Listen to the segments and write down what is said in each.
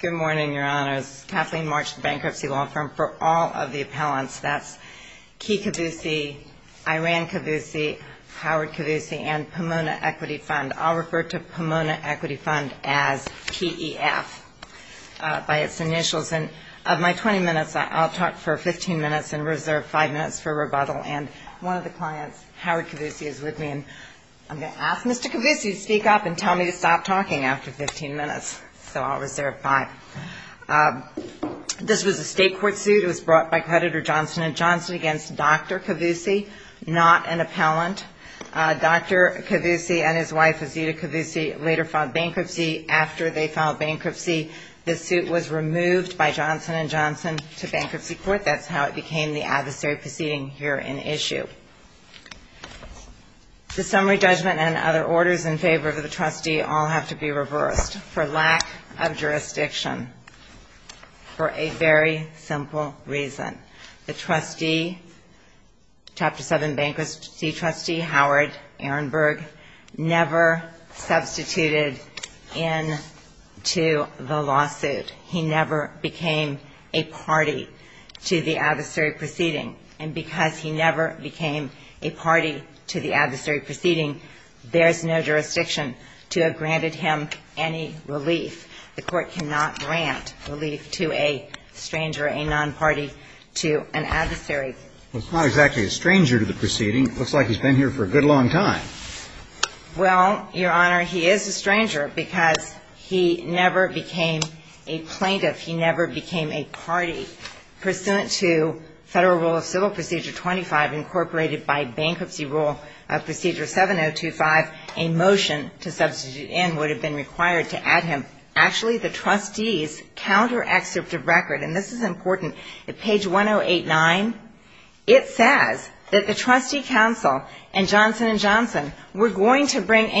Good morning, Your Honors. Kathleen March, Bankruptcy Law Firm. For all of the appellants, that's Key Kavoussi, Iran Kavoussi, Howard Kavoussi, and Pomona Equity Fund. I'll refer to Pomona Equity Fund as P.E.F. by its initials. And of my 20 minutes, I'll talk for 15 minutes and reserve 5 minutes for rebuttal. And one of the clients, Howard Kavoussi, is with me. And I'm going to ask Mr. Kavoussi to speak up and tell me to stop talking after 15 minutes. So I'll reserve 5. This was a state court suit. It was brought by creditor Johnson & Johnson against Dr. Kavoussi, not an appellant. Dr. Kavoussi and his wife, Azita Kavoussi, later filed bankruptcy. After they filed bankruptcy, the summary judgment and other orders in favor of the trustee all have to be reversed for lack of jurisdiction for a very simple reason. The trustee, Chapter 7 Bankruptcy Trustee Howard Ehrenberg, never substituted into the lawsuit. He never became a party to the adversary proceeding. And because he never became a party to the adversary proceeding, there's no jurisdiction to have granted him any relief. The Court cannot grant relief to a stranger, a non-party, to an adversary. Well, he's not exactly a stranger to the proceeding. Looks like he's been here for a good long time. Well, Your Honor, he is a stranger because he never became a plaintiff. He never became a party. Pursuant to Federal Rule of Civil Procedure 25 incorporated by Bankruptcy Rule of Procedure 7025, a motion to substitute in would have been required to add him. Actually, the trustee's counter-excerpt of record, and this is important, at that time, there was never a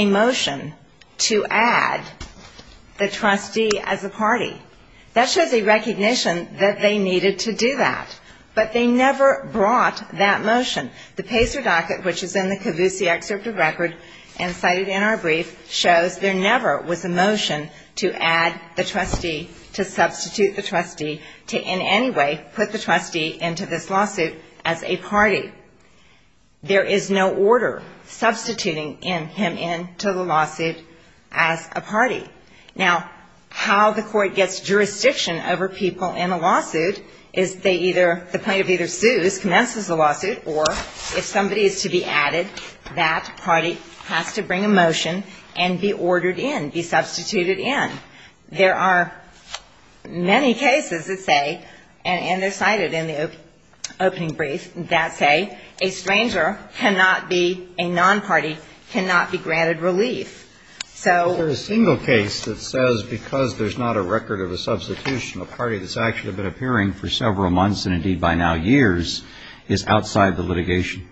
motion to add the trustee as a party. That shows a recognition that they needed to do that. But they never brought that motion. The Pacer Docket, which is in the Cavusy excerpt of record and cited in our brief, shows there never was a motion to add the trustee, to a party. Now, how the Court gets jurisdiction over people in a lawsuit is they either, the plaintiff either sues, commences the lawsuit, or if somebody is to be added, that party has to bring a motion and be ordered in, be substituted in. There are many cases that say, and they're cited in the opening brief, that say, a stranger cannot be a non-party, cannot be granted relief. So there's a single case that says because there's not a record of a substitution, a party that's actually been appearing for several months, and indeed by now years, is outside the litigation.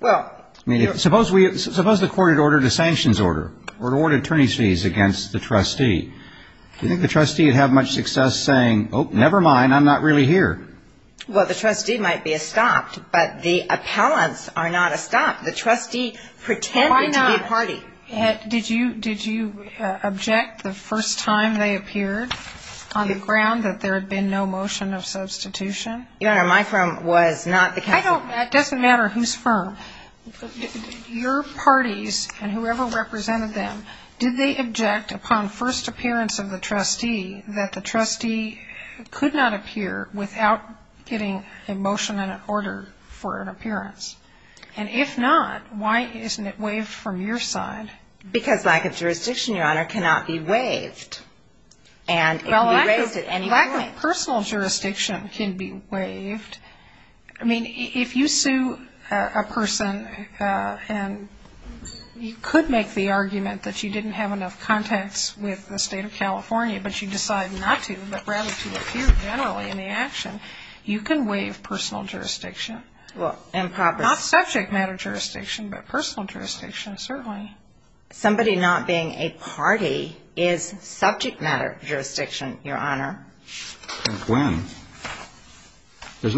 Well, I mean, suppose the Court had ordered a sanctions order, or ordered attorney's fees against the trustee. Do you think the trustee would have much success saying, oh, never mind, I'm not really here? Well, the trustee might be estopped, but the appellants are not estopped. The trustee pretended to be a party. Why not? Did you object the first time they appeared on the ground that there had been no motion of substitution? No, no, my firm was not the counsel. It doesn't matter who's firm. Your parties and whoever represented them, did they object upon first appearance of the trustee that the trustee could not be a party? Well, I think that the first time they appeared, they did not object upon first appearance of the trustee. And if they did not appear, why would they not appear without getting a motion and an order for an appearance? And if not, why isn't it waived from your side? Because lack of jurisdiction, Your Honor, cannot be waived. And it can be waived at any point. Well, lack of personal jurisdiction can be waived. I mean, if you sue a person and you could make the argument that you didn't have enough contacts with the State of California, but you decide not to, but rather to appear generally in the action, you can waive personal jurisdiction. Well, improper. Not subject matter jurisdiction, but personal jurisdiction, certainly. Somebody not being a personal jurisdiction can be waived. Well, if you're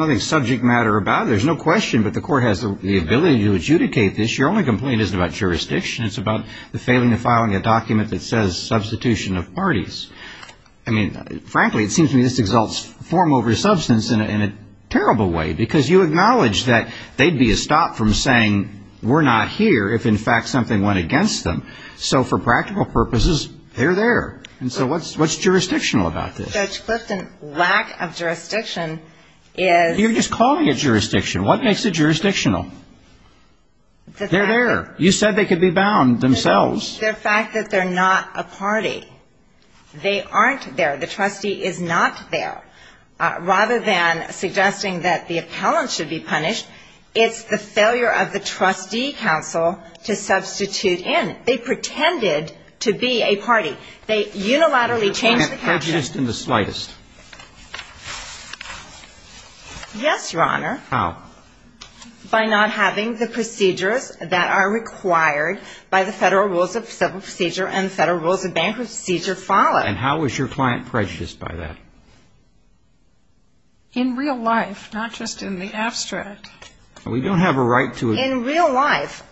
going to adjudicate this, your only complaint isn't about jurisdiction. It's about the failing to file a document that says substitution of parties. I mean, frankly, it seems to me this exalts form over substance in a terrible way, because you acknowledge that they'd be a stop from saying we're not here if, in fact, something went against them. So for practical purposes, they're there. And so what's jurisdictional about this? Judge Clifton, lack of jurisdiction is You're just calling it jurisdiction. What makes it jurisdictional? They're there. You said they could be bound themselves. The fact that they're not a party. They aren't there. The trustee is not there. Rather than suggesting that the appellant should be punished, it's the slightest. Yes, Your Honor. How? By not having the procedures that are required by the Federal Rules of Civil Procedure and the Federal Rules of Bankruptcy Procedure followed. And how is your client prejudiced by that? In real life, not just in the abstract. We don't have a right to In real life,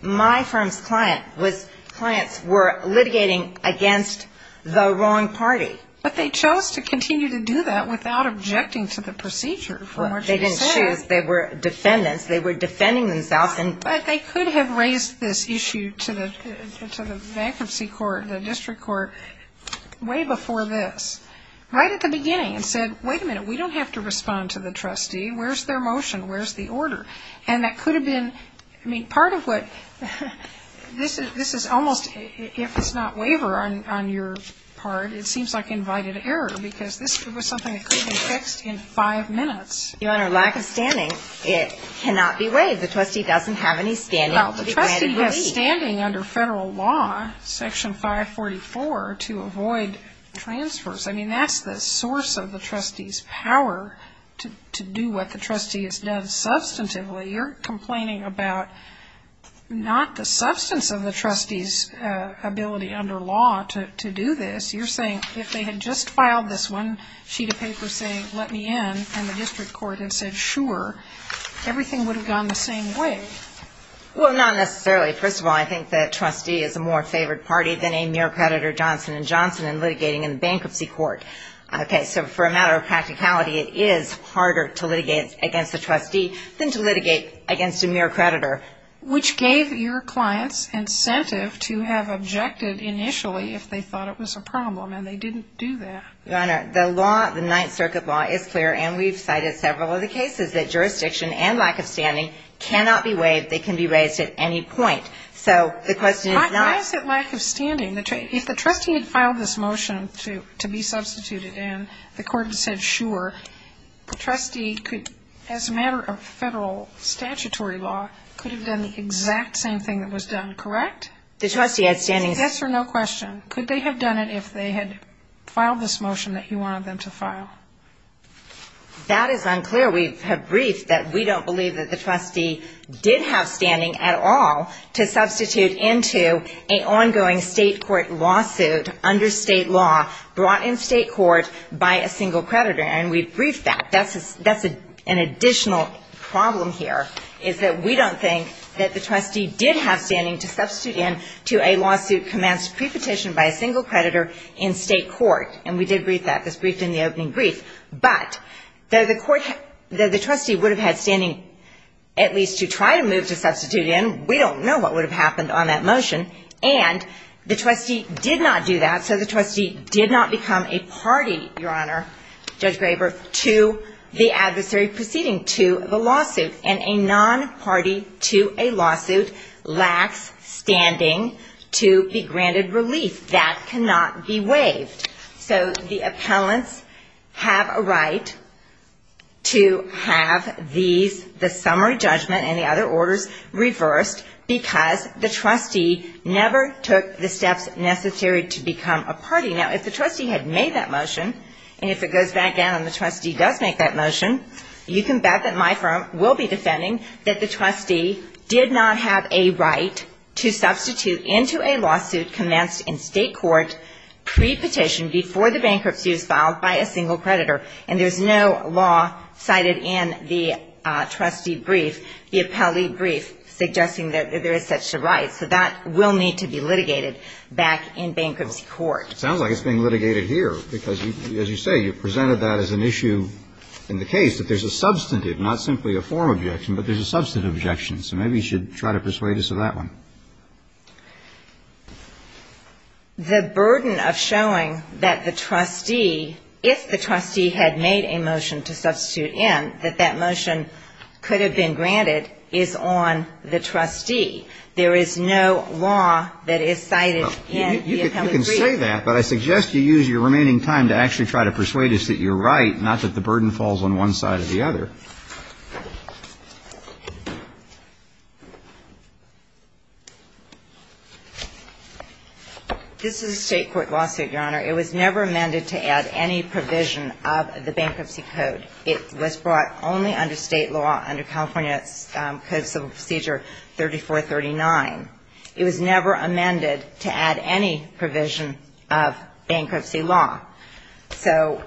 my firm's client was litigating against the wrong party. But they chose to continue to do that without objecting to the procedure. They didn't choose. They were defendants. They were defending themselves. But they could have raised this issue to the bankruptcy court, the district court, way before this. Right at the beginning and said, wait a minute. This is almost, if it's not waiver on your part, it seems like invited error. Because this was something that could have been fixed in five minutes. Your Honor, lack of standing. It cannot be waived. The trustee doesn't have any standing. The trustee is standing under federal law, section 544, to avoid transfers. I mean, that's the thing. I mean, you're complaining about not the substance of the trustee's ability under law to do this. You're saying if they had just filed this one sheet of paper saying, let me in, and the district court had said, sure, everything would have gone the same way. Well, not necessarily. First of all, I think the trustee is a more favored party than a mere creditor, Johnson & Johnson, in particular, to litigate against the trustee than to litigate against a mere creditor. Which gave your clients incentive to have objected initially if they thought it was a problem, and they didn't do that. Your Honor, the law, the Ninth Circuit law is clear, and we've cited several of the cases that jurisdiction and lack of standing cannot be waived. They can be raised at any point. So the lack of standing, if the trustee had filed this motion to be substituted, and the court had said, sure, the trustee could, as a matter of federal statutory law, could have done the exact same thing that was done, correct? The trustee had standing. Yes or no question. Could they have done it if they had filed this motion that you wanted them to file? That is unclear. We have briefed that we don't believe that the trustee did have standing at all to substitute into an ongoing state court lawsuit under state law brought in state court by a single creditor. And we've briefed that. That's an additional problem here, is that we don't think that the trustee did have standing to substitute into a lawsuit commenced pre-petitioned by a single creditor in state court. And we did brief that. This briefed in the opening brief. But the trustee would have had standing at least to try to move to substitute in. We don't know what would have happened on that motion. And the trustee did not do that. So the trustee did not become a party, Your Honor, Judge Graber, to the adversary proceeding to the lawsuit. And a non-party to a lawsuit lacks standing to be granted relief. That cannot be waived. So the appellants have a right to have these, the summary judgment and the other orders reversed because the trustee never took the steps necessary to become a party. Now, if the trustee had made that motion, and if it goes back down and the trustee does make that motion, you can bet that my firm will be defending that the trustee did not have a right to substitute into a lawsuit commenced in state court pre-petitioned by a single creditor. It sounds like it's being litigated here because, as you say, you presented that as an issue in the case, that there's a substantive, not simply a formal objection, but there's a substantive objection. So maybe you should try to persuade us of that one. The burden of showing that the trustee, if the trustee had made a motion to substitute in, that that motion could have been granted is on the trustee. There is no law that is cited in the appellate brief. Well, I can say that, but I suggest you use your remaining time to actually try to persuade us that you're right, not that the burden falls on one side or the other. This is a state court lawsuit, Your Honor. It was never amended to add any provision of the bankruptcy code. It was brought only under state law, under California Code of Civil Procedure 3439. It was never amended to add any provision of bankruptcy law. So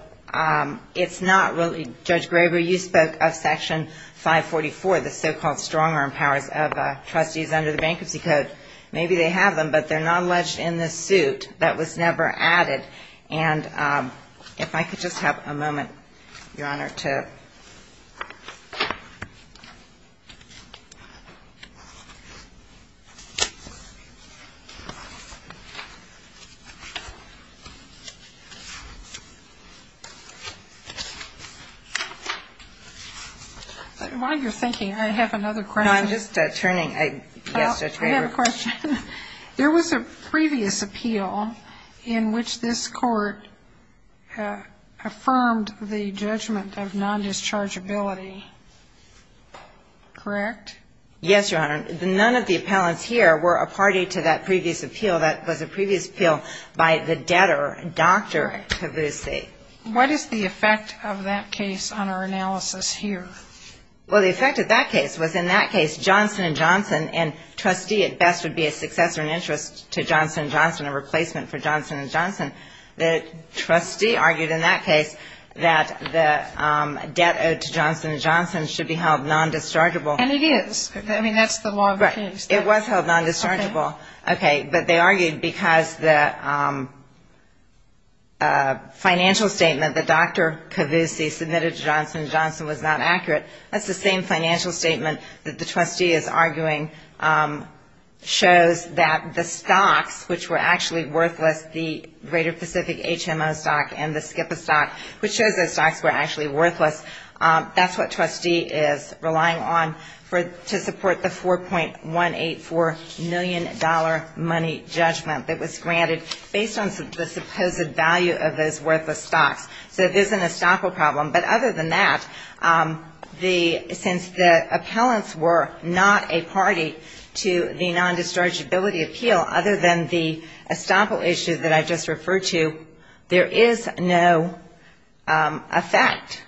it's not really, Judge Graber, you spoke of Section 544, the so-called strong-arm powers of trustees under the bankruptcy code. Maybe they have them, but they're not alleged in this suit. That was never added. And if I could just have a moment, Your Honor, to ---- While you're thinking, I have another question. No, I'm just turning. Yes, Judge Graber. I have a question. There was a previous appeal in which this Court affirmed the judgment of non-dischargeability, correct? Yes, Your Honor. None of the appellants here were a party to that previous appeal. That was a previous appeal by the debtor, Dr. Tabusi. What is the effect of that case on our analysis here? Well, the effect of that case was, in that case, Johnson & Johnson and trustee at best would be a successor in interest to Johnson & Johnson, a replacement for Johnson & Johnson. The trustee argued in that case that the debt owed to Johnson & Johnson should be held non-dischargeable. And it is. I mean, that's the law. It was held non-dischargeable, okay. But they argued because the financial statement that Dr. Tabusi submitted to Johnson & Johnson was not accurate. That's the same financial statement that the trustee is arguing shows that the stocks, which were actually worthless, the Greater Pacific HMO stock and the SCIPA stock, which shows those stocks were actually worthless. That's what trustee is relying on to support the $4.184 million money judgment that was granted based on the supposed value of those worthless stocks. So there's an estoppel problem. But other than that, since the appellants were not a party to the non-dischargeability appeal, other than the estoppel issue that I just referred to, there is no effect.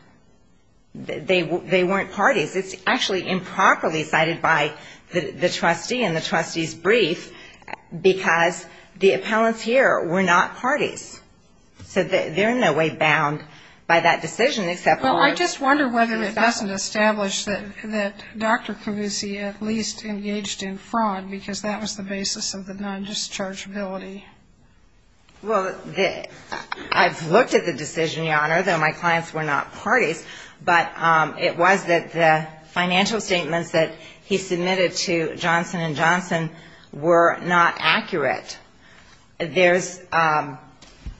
They weren't parties. It's actually improperly cited by the trustee in the trustee's brief, because the appellants here were not parties. So they're in no way bound by that decision, except for one. It doesn't establish that Dr. Tabusi at least engaged in fraud, because that was the basis of the non-dischargeability. Well, I've looked at the decision, Your Honor, though my clients were not parties. But it was that the financial statements that he submitted to Johnson & Johnson were not accurate. There's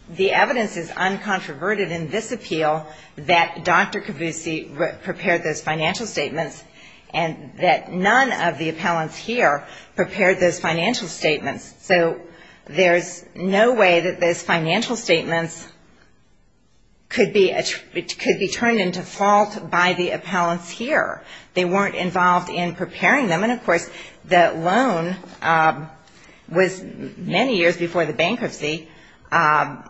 the evidence is uncontroverted in this appeal that Dr. Tabusi prepared those financial statements, and that none of the appellants here prepared those financial statements. So there's no way that those financial statements could be turned into fault by the appellants here. They weren't involved in preparing them. And, of course, the loan was many years before the bankruptcy. The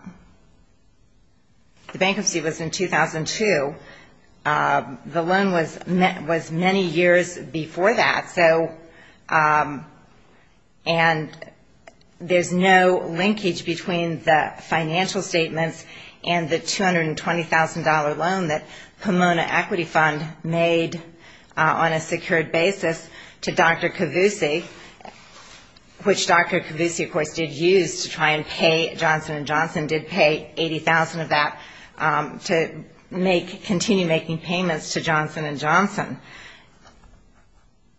bankruptcy was in 2002. The loan was many years before that, and there's no linkage between the financial statements and the $220,000 loan that Pomona Equity Fund made on a secured basis to Dr. Tabusi, which Dr. Tabusi, of course, did use to try and pay Johnson & Johnson, did pay $80,000 of that to continue making payments to Johnson & Johnson.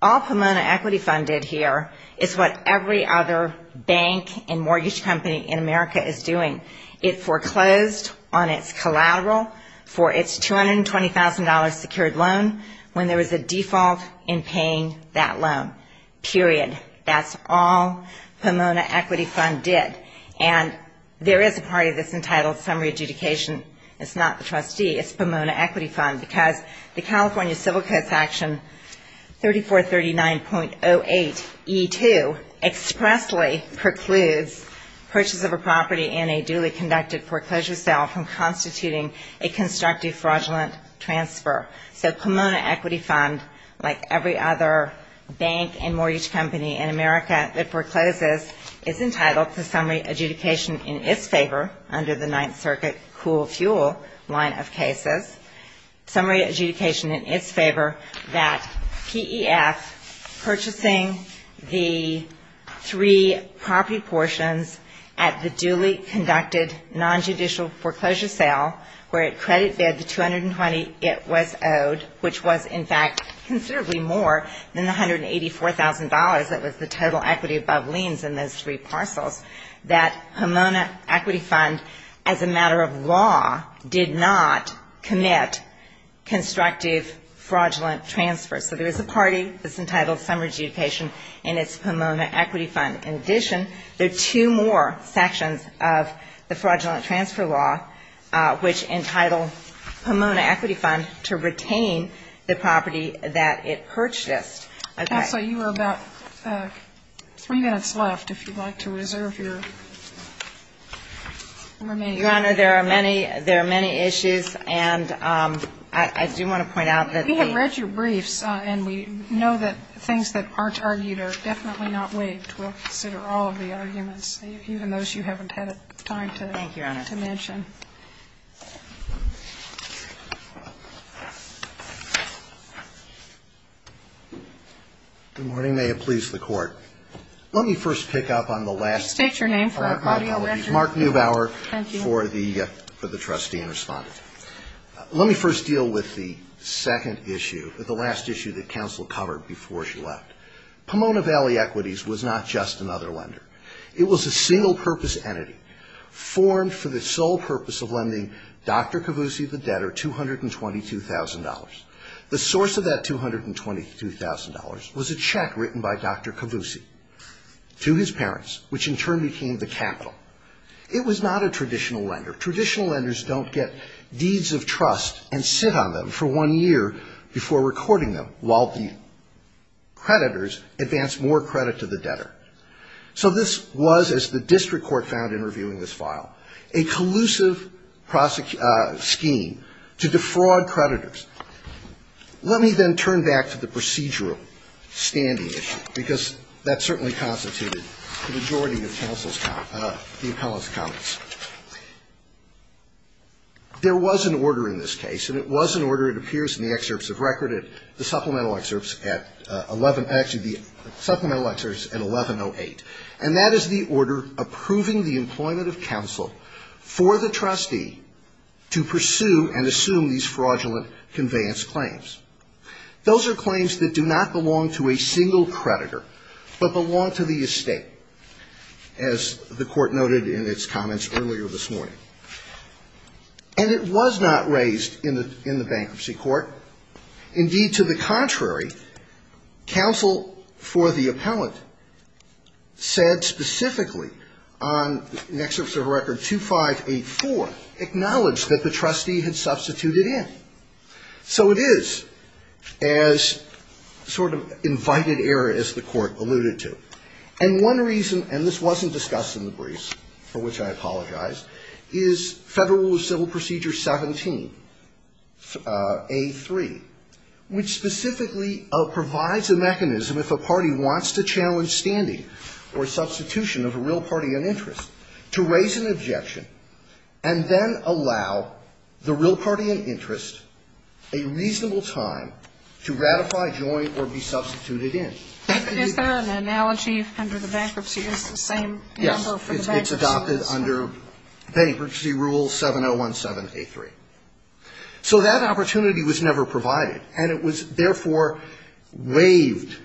All Pomona Equity Fund did here is what every other bank and mortgage company in America is doing. It foreclosed on its collateral for its $220,000 secured loan when there was a default in paying that loan, period. That's all Pomona Equity Fund did. And there is a party that's entitled summary adjudication. It's not the trustee. Because the California Civil Code section 3439.08E2 expressly precludes purchase of a property in a duly conducted foreclosure sale from constituting a constructive fraudulent transfer. So Pomona Equity Fund, like every other bank and mortgage company in America that forecloses, is entitled to summary adjudication in its favor under the Ninth Circuit Cool Fuel line of cases. Summary adjudication in its favor that P.E.F. purchasing the three property portions at the duly conducted nonjudicial foreclosure sale where it credit bid the $220,000 it was owed, which was, in fact, considerably more than the $184,000 that was the total equity above liens in those three parcels, that Pomona Equity Fund, as a matter of law, did not commit constructive fraudulent transfers. So there is a party that's entitled summary adjudication in its Pomona Equity Fund. In addition, there are two more sections of the fraudulent transfer law which entitle Pomona Equity Fund to retain the property that it purchased. Okay. So you are about three minutes left, if you'd like to reserve your remaining time. Your Honor, there are many issues, and I do want to point out that the ---- We have read your briefs, and we know that things that aren't argued are definitely not waived. We'll consider all of the arguments, even those you haven't had time to mention. Thank you, Your Honor. Good morning. May it please the Court. Let me first pick up on the last ---- State your name for the record. Mark Neubauer for the Trustee and Respondent. Let me first deal with the second issue, the last issue that counsel covered before she left. Pomona Valley Equities was not just another lender. It was a single-purpose entity formed for the sole purpose of lending Dr. Cavussi the debtor $222,000. The source of that $222,000 was a check written by Dr. Cavussi to his parents, which in turn became the capital. It was not a traditional lender. Traditional lenders don't get deeds of trust and sit on them for one year before recording them while the creditors advance more credit to the debtor. So this was, as the district court found in reviewing this file, a collusive scheme to defraud creditors. Let me then turn back to the procedural standing issue, because that certainly constituted the majority of the appellant's comments. There was an order in this case, and it was an order that appears in the excerpts of record at the supplemental excerpts at 11 ---- actually, the supplemental excerpts at 1108. And that is the order approving the employment of counsel for the trustee to pursue and assume these fraudulent conveyance claims. Those are claims that do not belong to a single creditor, but belong to the estate. As the court noted in its comments earlier this morning. And it was not raised in the bankruptcy court. Indeed, to the contrary, counsel for the appellant said specifically on an excerpt of record 2584, acknowledged that the trustee had substituted in. So it is as sort of invited error as the court alluded to. And one reason, and this wasn't discussed in the briefs, for which I apologize, is Federal Rule of Civil Procedure 17A3, which specifically provides a mechanism if a party wants to challenge standing or substitution of a real party in interest to raise an objection and then allow the real party in interest a reasonable time to ratify, join, or be substituted in. Is there an analogy under the bankruptcy is the same? Yes. It's adopted under bankruptcy rule 7017A3. So that opportunity was never provided. And it was, therefore, waived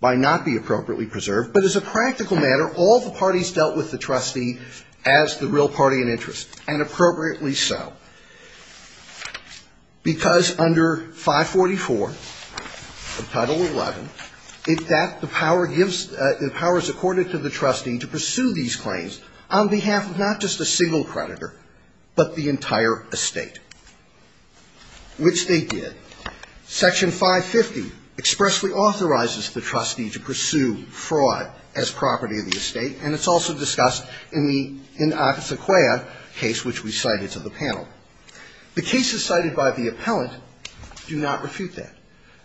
by not being appropriately preserved. But as a practical matter, all the parties dealt with the trustee as the real party in interest, and appropriately so. Because under 544 of Title 11, in fact, the power gives the powers according to the trustee to pursue these claims on behalf of not just a single creditor, but the entire estate, which they did. Section 550 expressly authorizes the trustee to pursue fraud as property of the estate, and it's also discussed in the Ocasio-Cortez case, which we cited to the panel. The cases cited by the appellant do not refute that.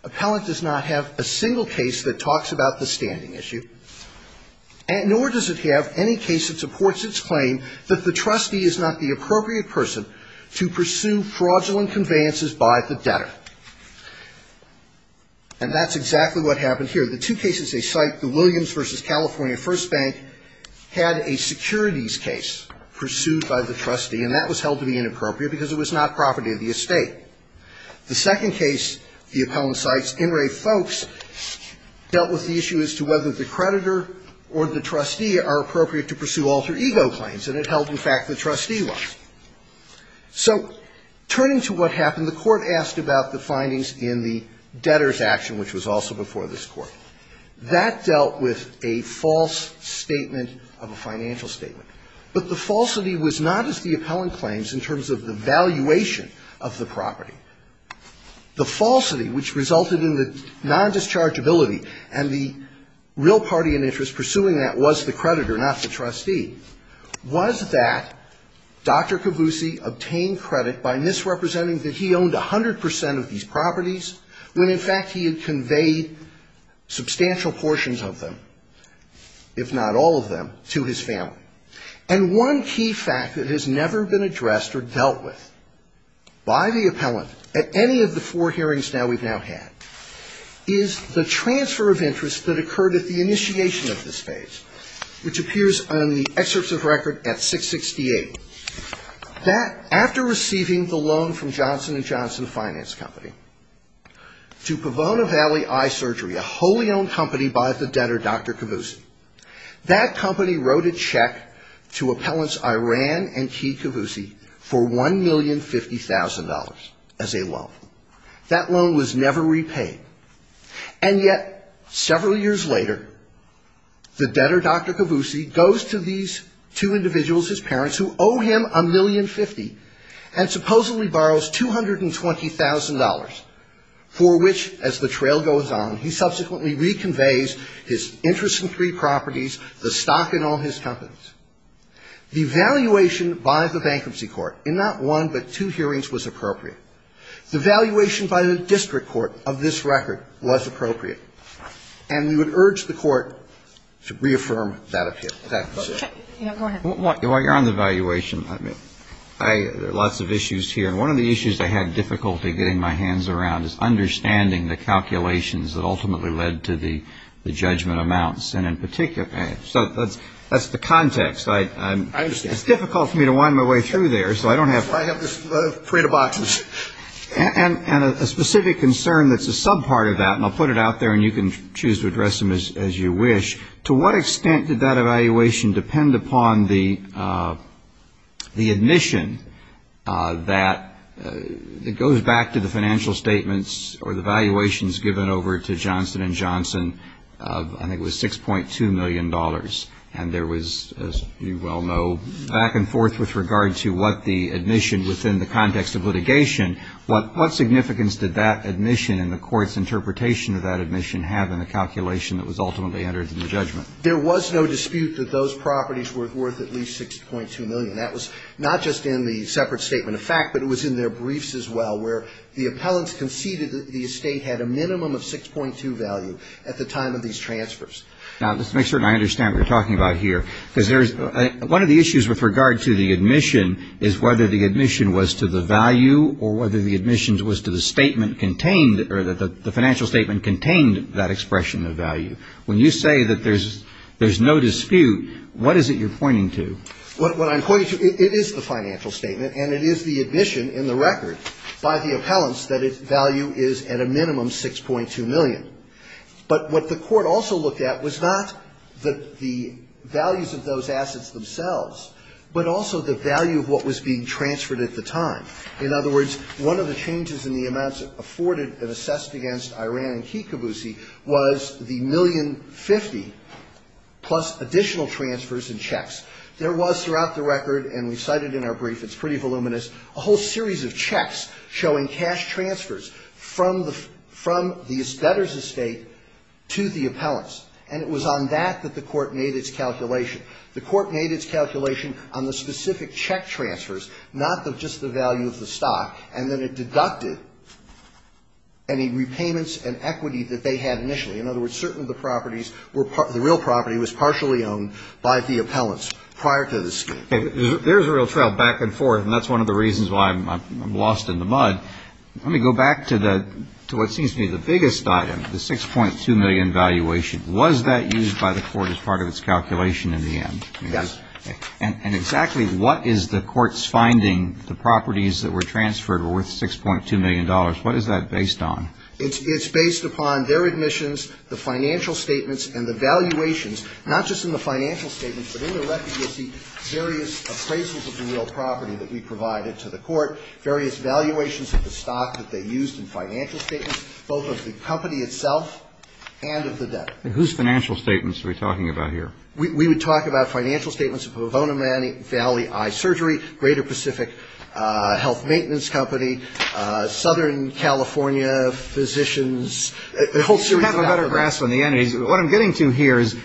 Appellant does not have a single case that talks about the standing issue, nor does it have any case that supports its claim that the trustee is not the appropriate person to pursue fraudulent conveyances by the debtor. And that's exactly what happened here. The two cases they cite, the Williams v. California First Bank, had a securities case pursued by the trustee, and that was held to be inappropriate because it was not property of the estate. The second case the appellant cites, In re Folks, dealt with the issue as to whether the creditor or the trustee are appropriate to pursue alter ego claims. And it held, in fact, the trustee was. So turning to what happened, the Court asked about the findings in the debtor's action, which was also before this Court. That dealt with a false statement of a financial statement. But the falsity was not as the appellant claims in terms of the valuation of the property. The falsity, which resulted in the nondischargeability, and the real party in interest pursuing that was the creditor, not the trustee, was that Dr. Cavussi obtained credit by misrepresenting that he owned 100 percent of these properties when, in fact, he had conveyed substantial portions of them, if not all of them, to his family. And one key fact that has never been addressed or dealt with by the appellant at any of the four hearings now we've now had is the transfer of interest that occurred at the initiation of this case, which appears on the excerpts of record at 668. That, after receiving the loan from Johnson & Johnson Finance Company to Pavona Valley Eye Surgery, a wholly owned company by the debtor, Dr. Cavussi, that company wrote a check to appellants Iran and Key Cavussi for $1,050,000 as a loan. That loan was never repaid. And yet, several years later, the debtor, Dr. Cavussi, goes to these two appellants and borrows $1,050,000 from them. He owes him $1,050,000 and supposedly borrows $220,000, for which, as the trail goes on, he subsequently reconveys his interest in three properties, the stock and all his companies. The valuation by the bankruptcy court in not one but two hearings was appropriate. The valuation by the district court of this record was appropriate. And we would urge the Court to reaffirm that position. Go ahead. While you're on the valuation, there are lots of issues here. And one of the issues I had difficulty getting my hands around is understanding the calculations that ultimately led to the judgment amounts. And in particular, so that's the context. I understand. It's difficult for me to wind my way through there, so I don't have time. I have this parade of boxes. And a specific concern that's a sub-part of that, and I'll put it out there and you can choose to address them as you wish, to what extent did that evaluation depend upon the admission that it goes back to the financial statements or the valuations given over to Johnson & Johnson of I think it was $6.2 million. And there was, as you well know, back and forth with regard to what the admission was in the context of litigation. What significance did that admission and the court's interpretation of that admission have in the calculation that was ultimately entered in the judgment? There was no dispute that those properties were worth at least $6.2 million. That was not just in the separate statement of fact, but it was in their briefs as well, where the appellants conceded that the estate had a minimum of $6.2 value at the time of these transfers. Now, just to make sure I understand what you're talking about here, because one of the issues with regard to the admission is whether the admission was to the value or whether the admission was to the statement contained or the financial statement contained that expression of value. When you say that there's no dispute, what is it you're pointing to? What I'm pointing to, it is the financial statement and it is the admission in the record by the appellants that its value is at a minimum $6.2 million. But what the court also looked at was not the values of those assets themselves, but also the value of what was being transferred at the time. In other words, one of the changes in the amounts afforded and assessed against Iran and Kikabusi was the $1,050,000 plus additional transfers and checks. There was throughout the record, and we cited in our brief, it's pretty voluminous, a whole series of checks showing cash transfers from the debtor's estate to the appellants. And it was on that that the court made its calculation. The court made its calculation on the specific check transfers, not just the value of the stock. And then it deducted any repayments and equity that they had initially. In other words, certain of the properties were the real property was partially owned by the appellants prior to the escape. There's a real trail back and forth, and that's one of the reasons why I'm lost in the mud. Let me go back to what seems to be the biggest item, the $6.2 million valuation. Was that used by the court as part of its calculation in the end? Yes. And exactly what is the court's finding? The properties that were transferred were worth $6.2 million. What is that based on? It's based upon their admissions, the financial statements, and the valuations, not just in the financial statements, but in the record you'll see various appraisals of the real property that we provided to the court, various valuations of the stock that they used in financial statements, both of the company itself and of the debtor. And whose financial statements are we talking about here? We would talk about financial statements of Pavonamani Valley Eye Surgery, Greater Pacific Health Maintenance Company, Southern California Physicians, a whole series of doctors. What I'm getting to here is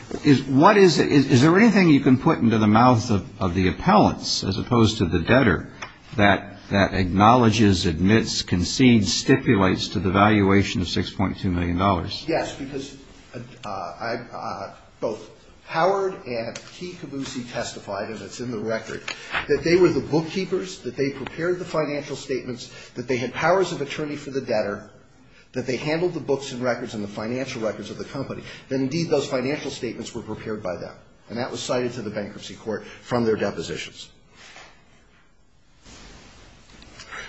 what is it? Is there anything you can put into the mouths of the appellants, as opposed to the debtor, that acknowledges, admits, concedes, stipulates to the valuation of $6.2 million? Yes, because both Howard and Key-Caboose testified, and it's in the record, that they were the bookkeepers, that they prepared the financial statements, that they had powers of attorney for the debtor, that they handled the books and records of the company, that indeed those financial statements were prepared by them. And that was cited to the bankruptcy court from their depositions.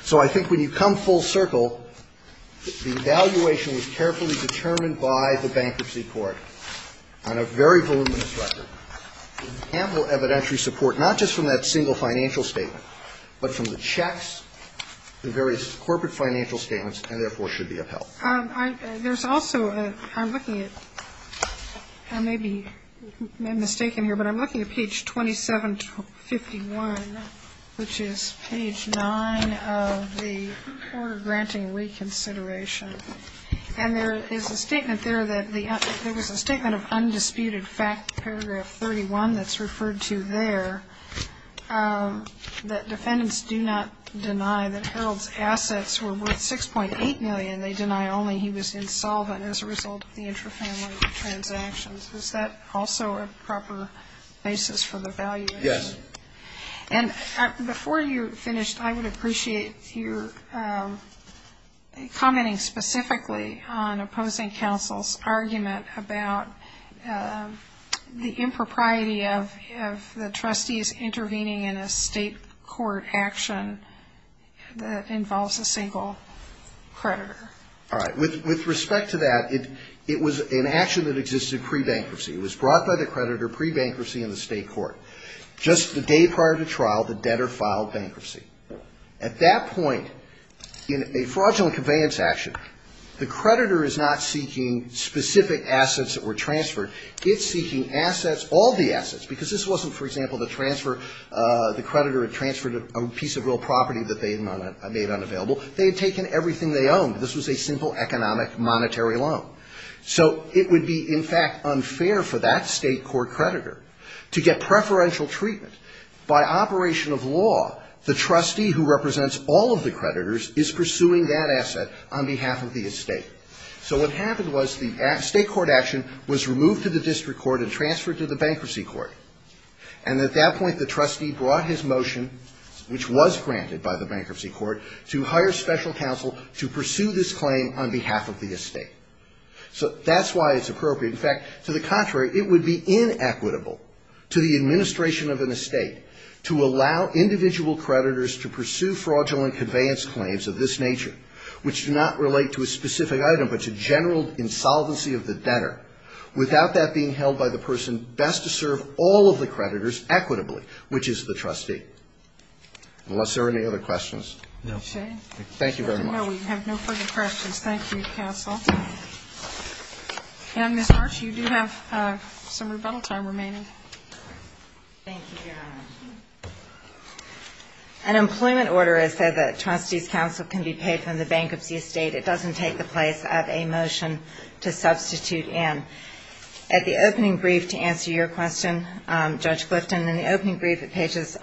So I think when you come full circle, the valuation was carefully determined by the bankruptcy court on a very voluminous record. There's ample evidentiary support, not just from that single financial statement, but from the checks, the various corporate financial statements, and therefore should be upheld. There's also, I'm looking at, I may be mistaken here, but I'm looking at page 2751, which is page 9 of the Order Granting Reconsideration. And there is a statement there that the, there was a statement of undisputed fact, paragraph 31, that's referred to there, that defendants do not deny that Harold's assets were worth $6.8 million. They deny only he was insolvent as a result of the intrafamily transactions. Is that also a proper basis for the valuation? Yes. And before you finish, I would appreciate your commenting specifically on opposing counsel's argument about the impropriety of the trustees intervening in a state court action that involves a single creditor. All right. With respect to that, it was an action that existed pre-bankruptcy. It was brought by the creditor pre-bankruptcy in the state court. Just the day prior to trial, the debtor filed bankruptcy. At that point, in a fraudulent conveyance action, the creditor is not seeking specific assets that were transferred. It's seeking assets, all the assets, because this wasn't, for example, the transfer, the creditor had transferred a piece of real property that they had made unavailable. They had taken everything they owned. This was a simple economic monetary loan. So it would be, in fact, unfair for that state court creditor to get preferential treatment. By operation of law, the trustee who represents all of the creditors is pursuing that asset on behalf of the estate. So what happened was the state court action was removed to the district court and transferred to the bankruptcy court. And at that point, the trustee brought his motion, which was granted by the bankruptcy court, to hire special counsel to pursue this claim on behalf of the estate. So that's why it's appropriate. In fact, to the contrary, it would be inequitable to the administration of an estate to allow individual creditors to pursue fraudulent conveyance claims of this nature, which do not relate to a specific item, but to general insolvency of the debtor, without that being held by the person best to serve all of the creditors equitably, which is the trustee. Unless there are any other questions. No. Thank you very much. No, we have no further questions. Thank you, counsel. And, Ms. March, you do have some rebuttal time remaining. Thank you, Your Honor. An employment order is that the trustee's counsel can be paid from the bankruptcy estate. It doesn't take the place of a motion to substitute in. At the opening brief, to answer your question, Judge Clifton, in the opening brief at pages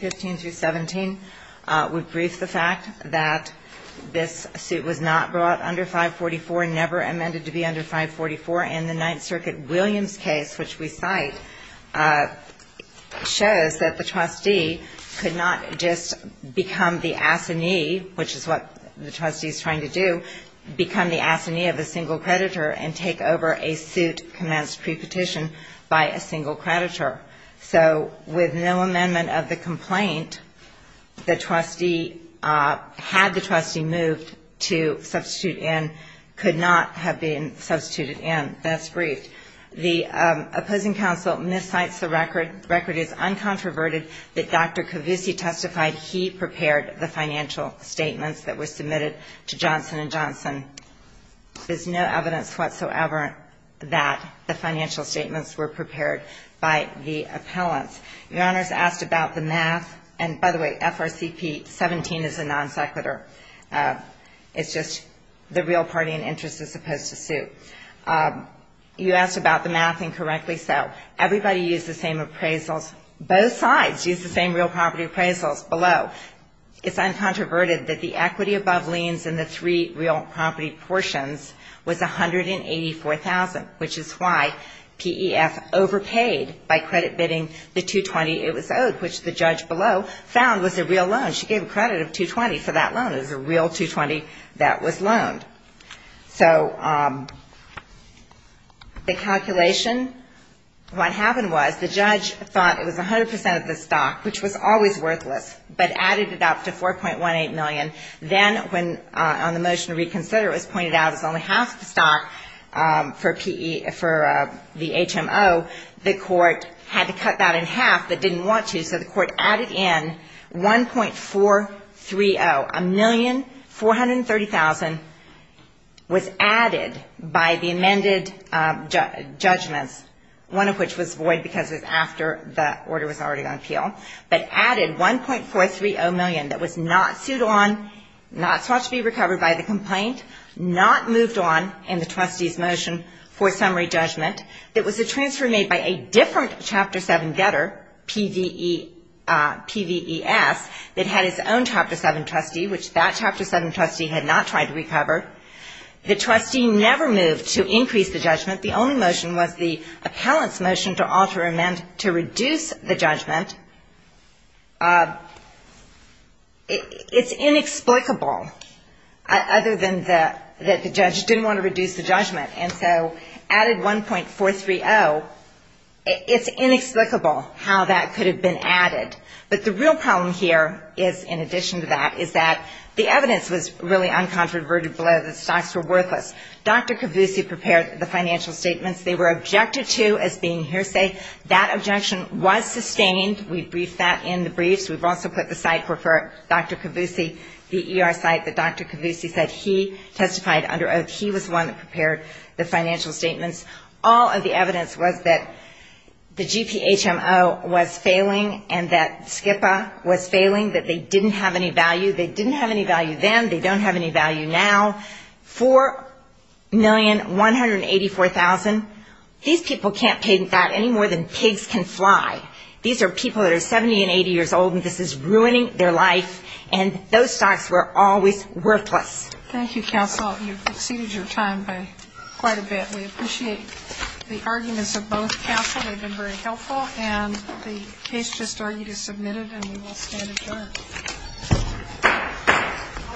15 through 17, we brief the fact that this suit was not brought under 544, never amended to be under 544, and the Ninth Circuit Williams case, which we cite, shows that the trustee could not just become the assignee, which is what the trustee is trying to do, become the assignee of a single creditor and take over a suit commenced pre-petition by a single creditor. So with no amendment of the complaint, the trustee, had the trustee moved to substitute in, could not have been substituted in. That's briefed. The opposing counsel miscites the record. The record is uncontroverted that Dr. Cavussi testified he prepared the financial statements that were submitted to Johnson & Johnson. There's no evidence whatsoever that the financial statements were prepared by the appellants. Your Honor's asked about the math, and by the way, FRCP 17 is a non sequitur. It's just the real party in interest as opposed to suit. You asked about the math, and correctly so. Everybody used the same appraisals. Both sides used the same real property appraisals below. It's uncontroverted that the equity above liens in the three real property portions was $184,000, which is why PEF overpaid by credit bidding the 220 it was owed, which the judge below found was a real loan. She gave a credit of 220 for that loan. It was a real 220 that was loaned. So the calculation, what happened was the judge thought it was 100% of the stock, which was always worthless, but added it up to $4.18 million. Then on the motion to reconsider, it was pointed out it was only half the stock for the HMO. The court had to cut that in half but didn't want to, so the court added in $1,430,000. $1,430,000 was added by the amended judgments, one of which was void because it was after the order was already on appeal, but added $1,430,000 that was not sued on, not sought to be recovered by the complaint, not moved on in the trustee's motion for summary judgment. It was a transfer made by a different Chapter 7 debtor, PVES, that had its own Chapter 7 trustee, which that Chapter 7 trustee had not tried to recover. The trustee never moved to increase the judgment. The only motion was the appellant's motion to alter amend to reduce the judgment. It's inexplicable other than that the judge didn't want to reduce the judgment, and so added $1,430,000, it's inexplicable how that could have been added. But the real problem here is, in addition to that, is that the evidence was really uncontroverted below that the stocks were worthless. Dr. Cavussi prepared the financial statements. They were objected to as being hearsay. That objection was sustained. We briefed that in the briefs. We've also put the site for Dr. Cavussi, the ER site that Dr. Cavussi said he testified under oath. He was the one that prepared the financial statements. All of the evidence was that the GPHMO was failing and that SCIPA was failing, that they didn't have any value. They didn't have any value then. They don't have any value now. $4,184,000. These people can't pay that any more than pigs can fly. These are people that are 70 and 80 years old, and this is ruining their life. And those stocks were always worthless. Thank you, counsel. You've exceeded your time by quite a bit. We appreciate the arguments of both counsel. They've been very helpful. And the case just argued is submitted, and we will stand adjourned. �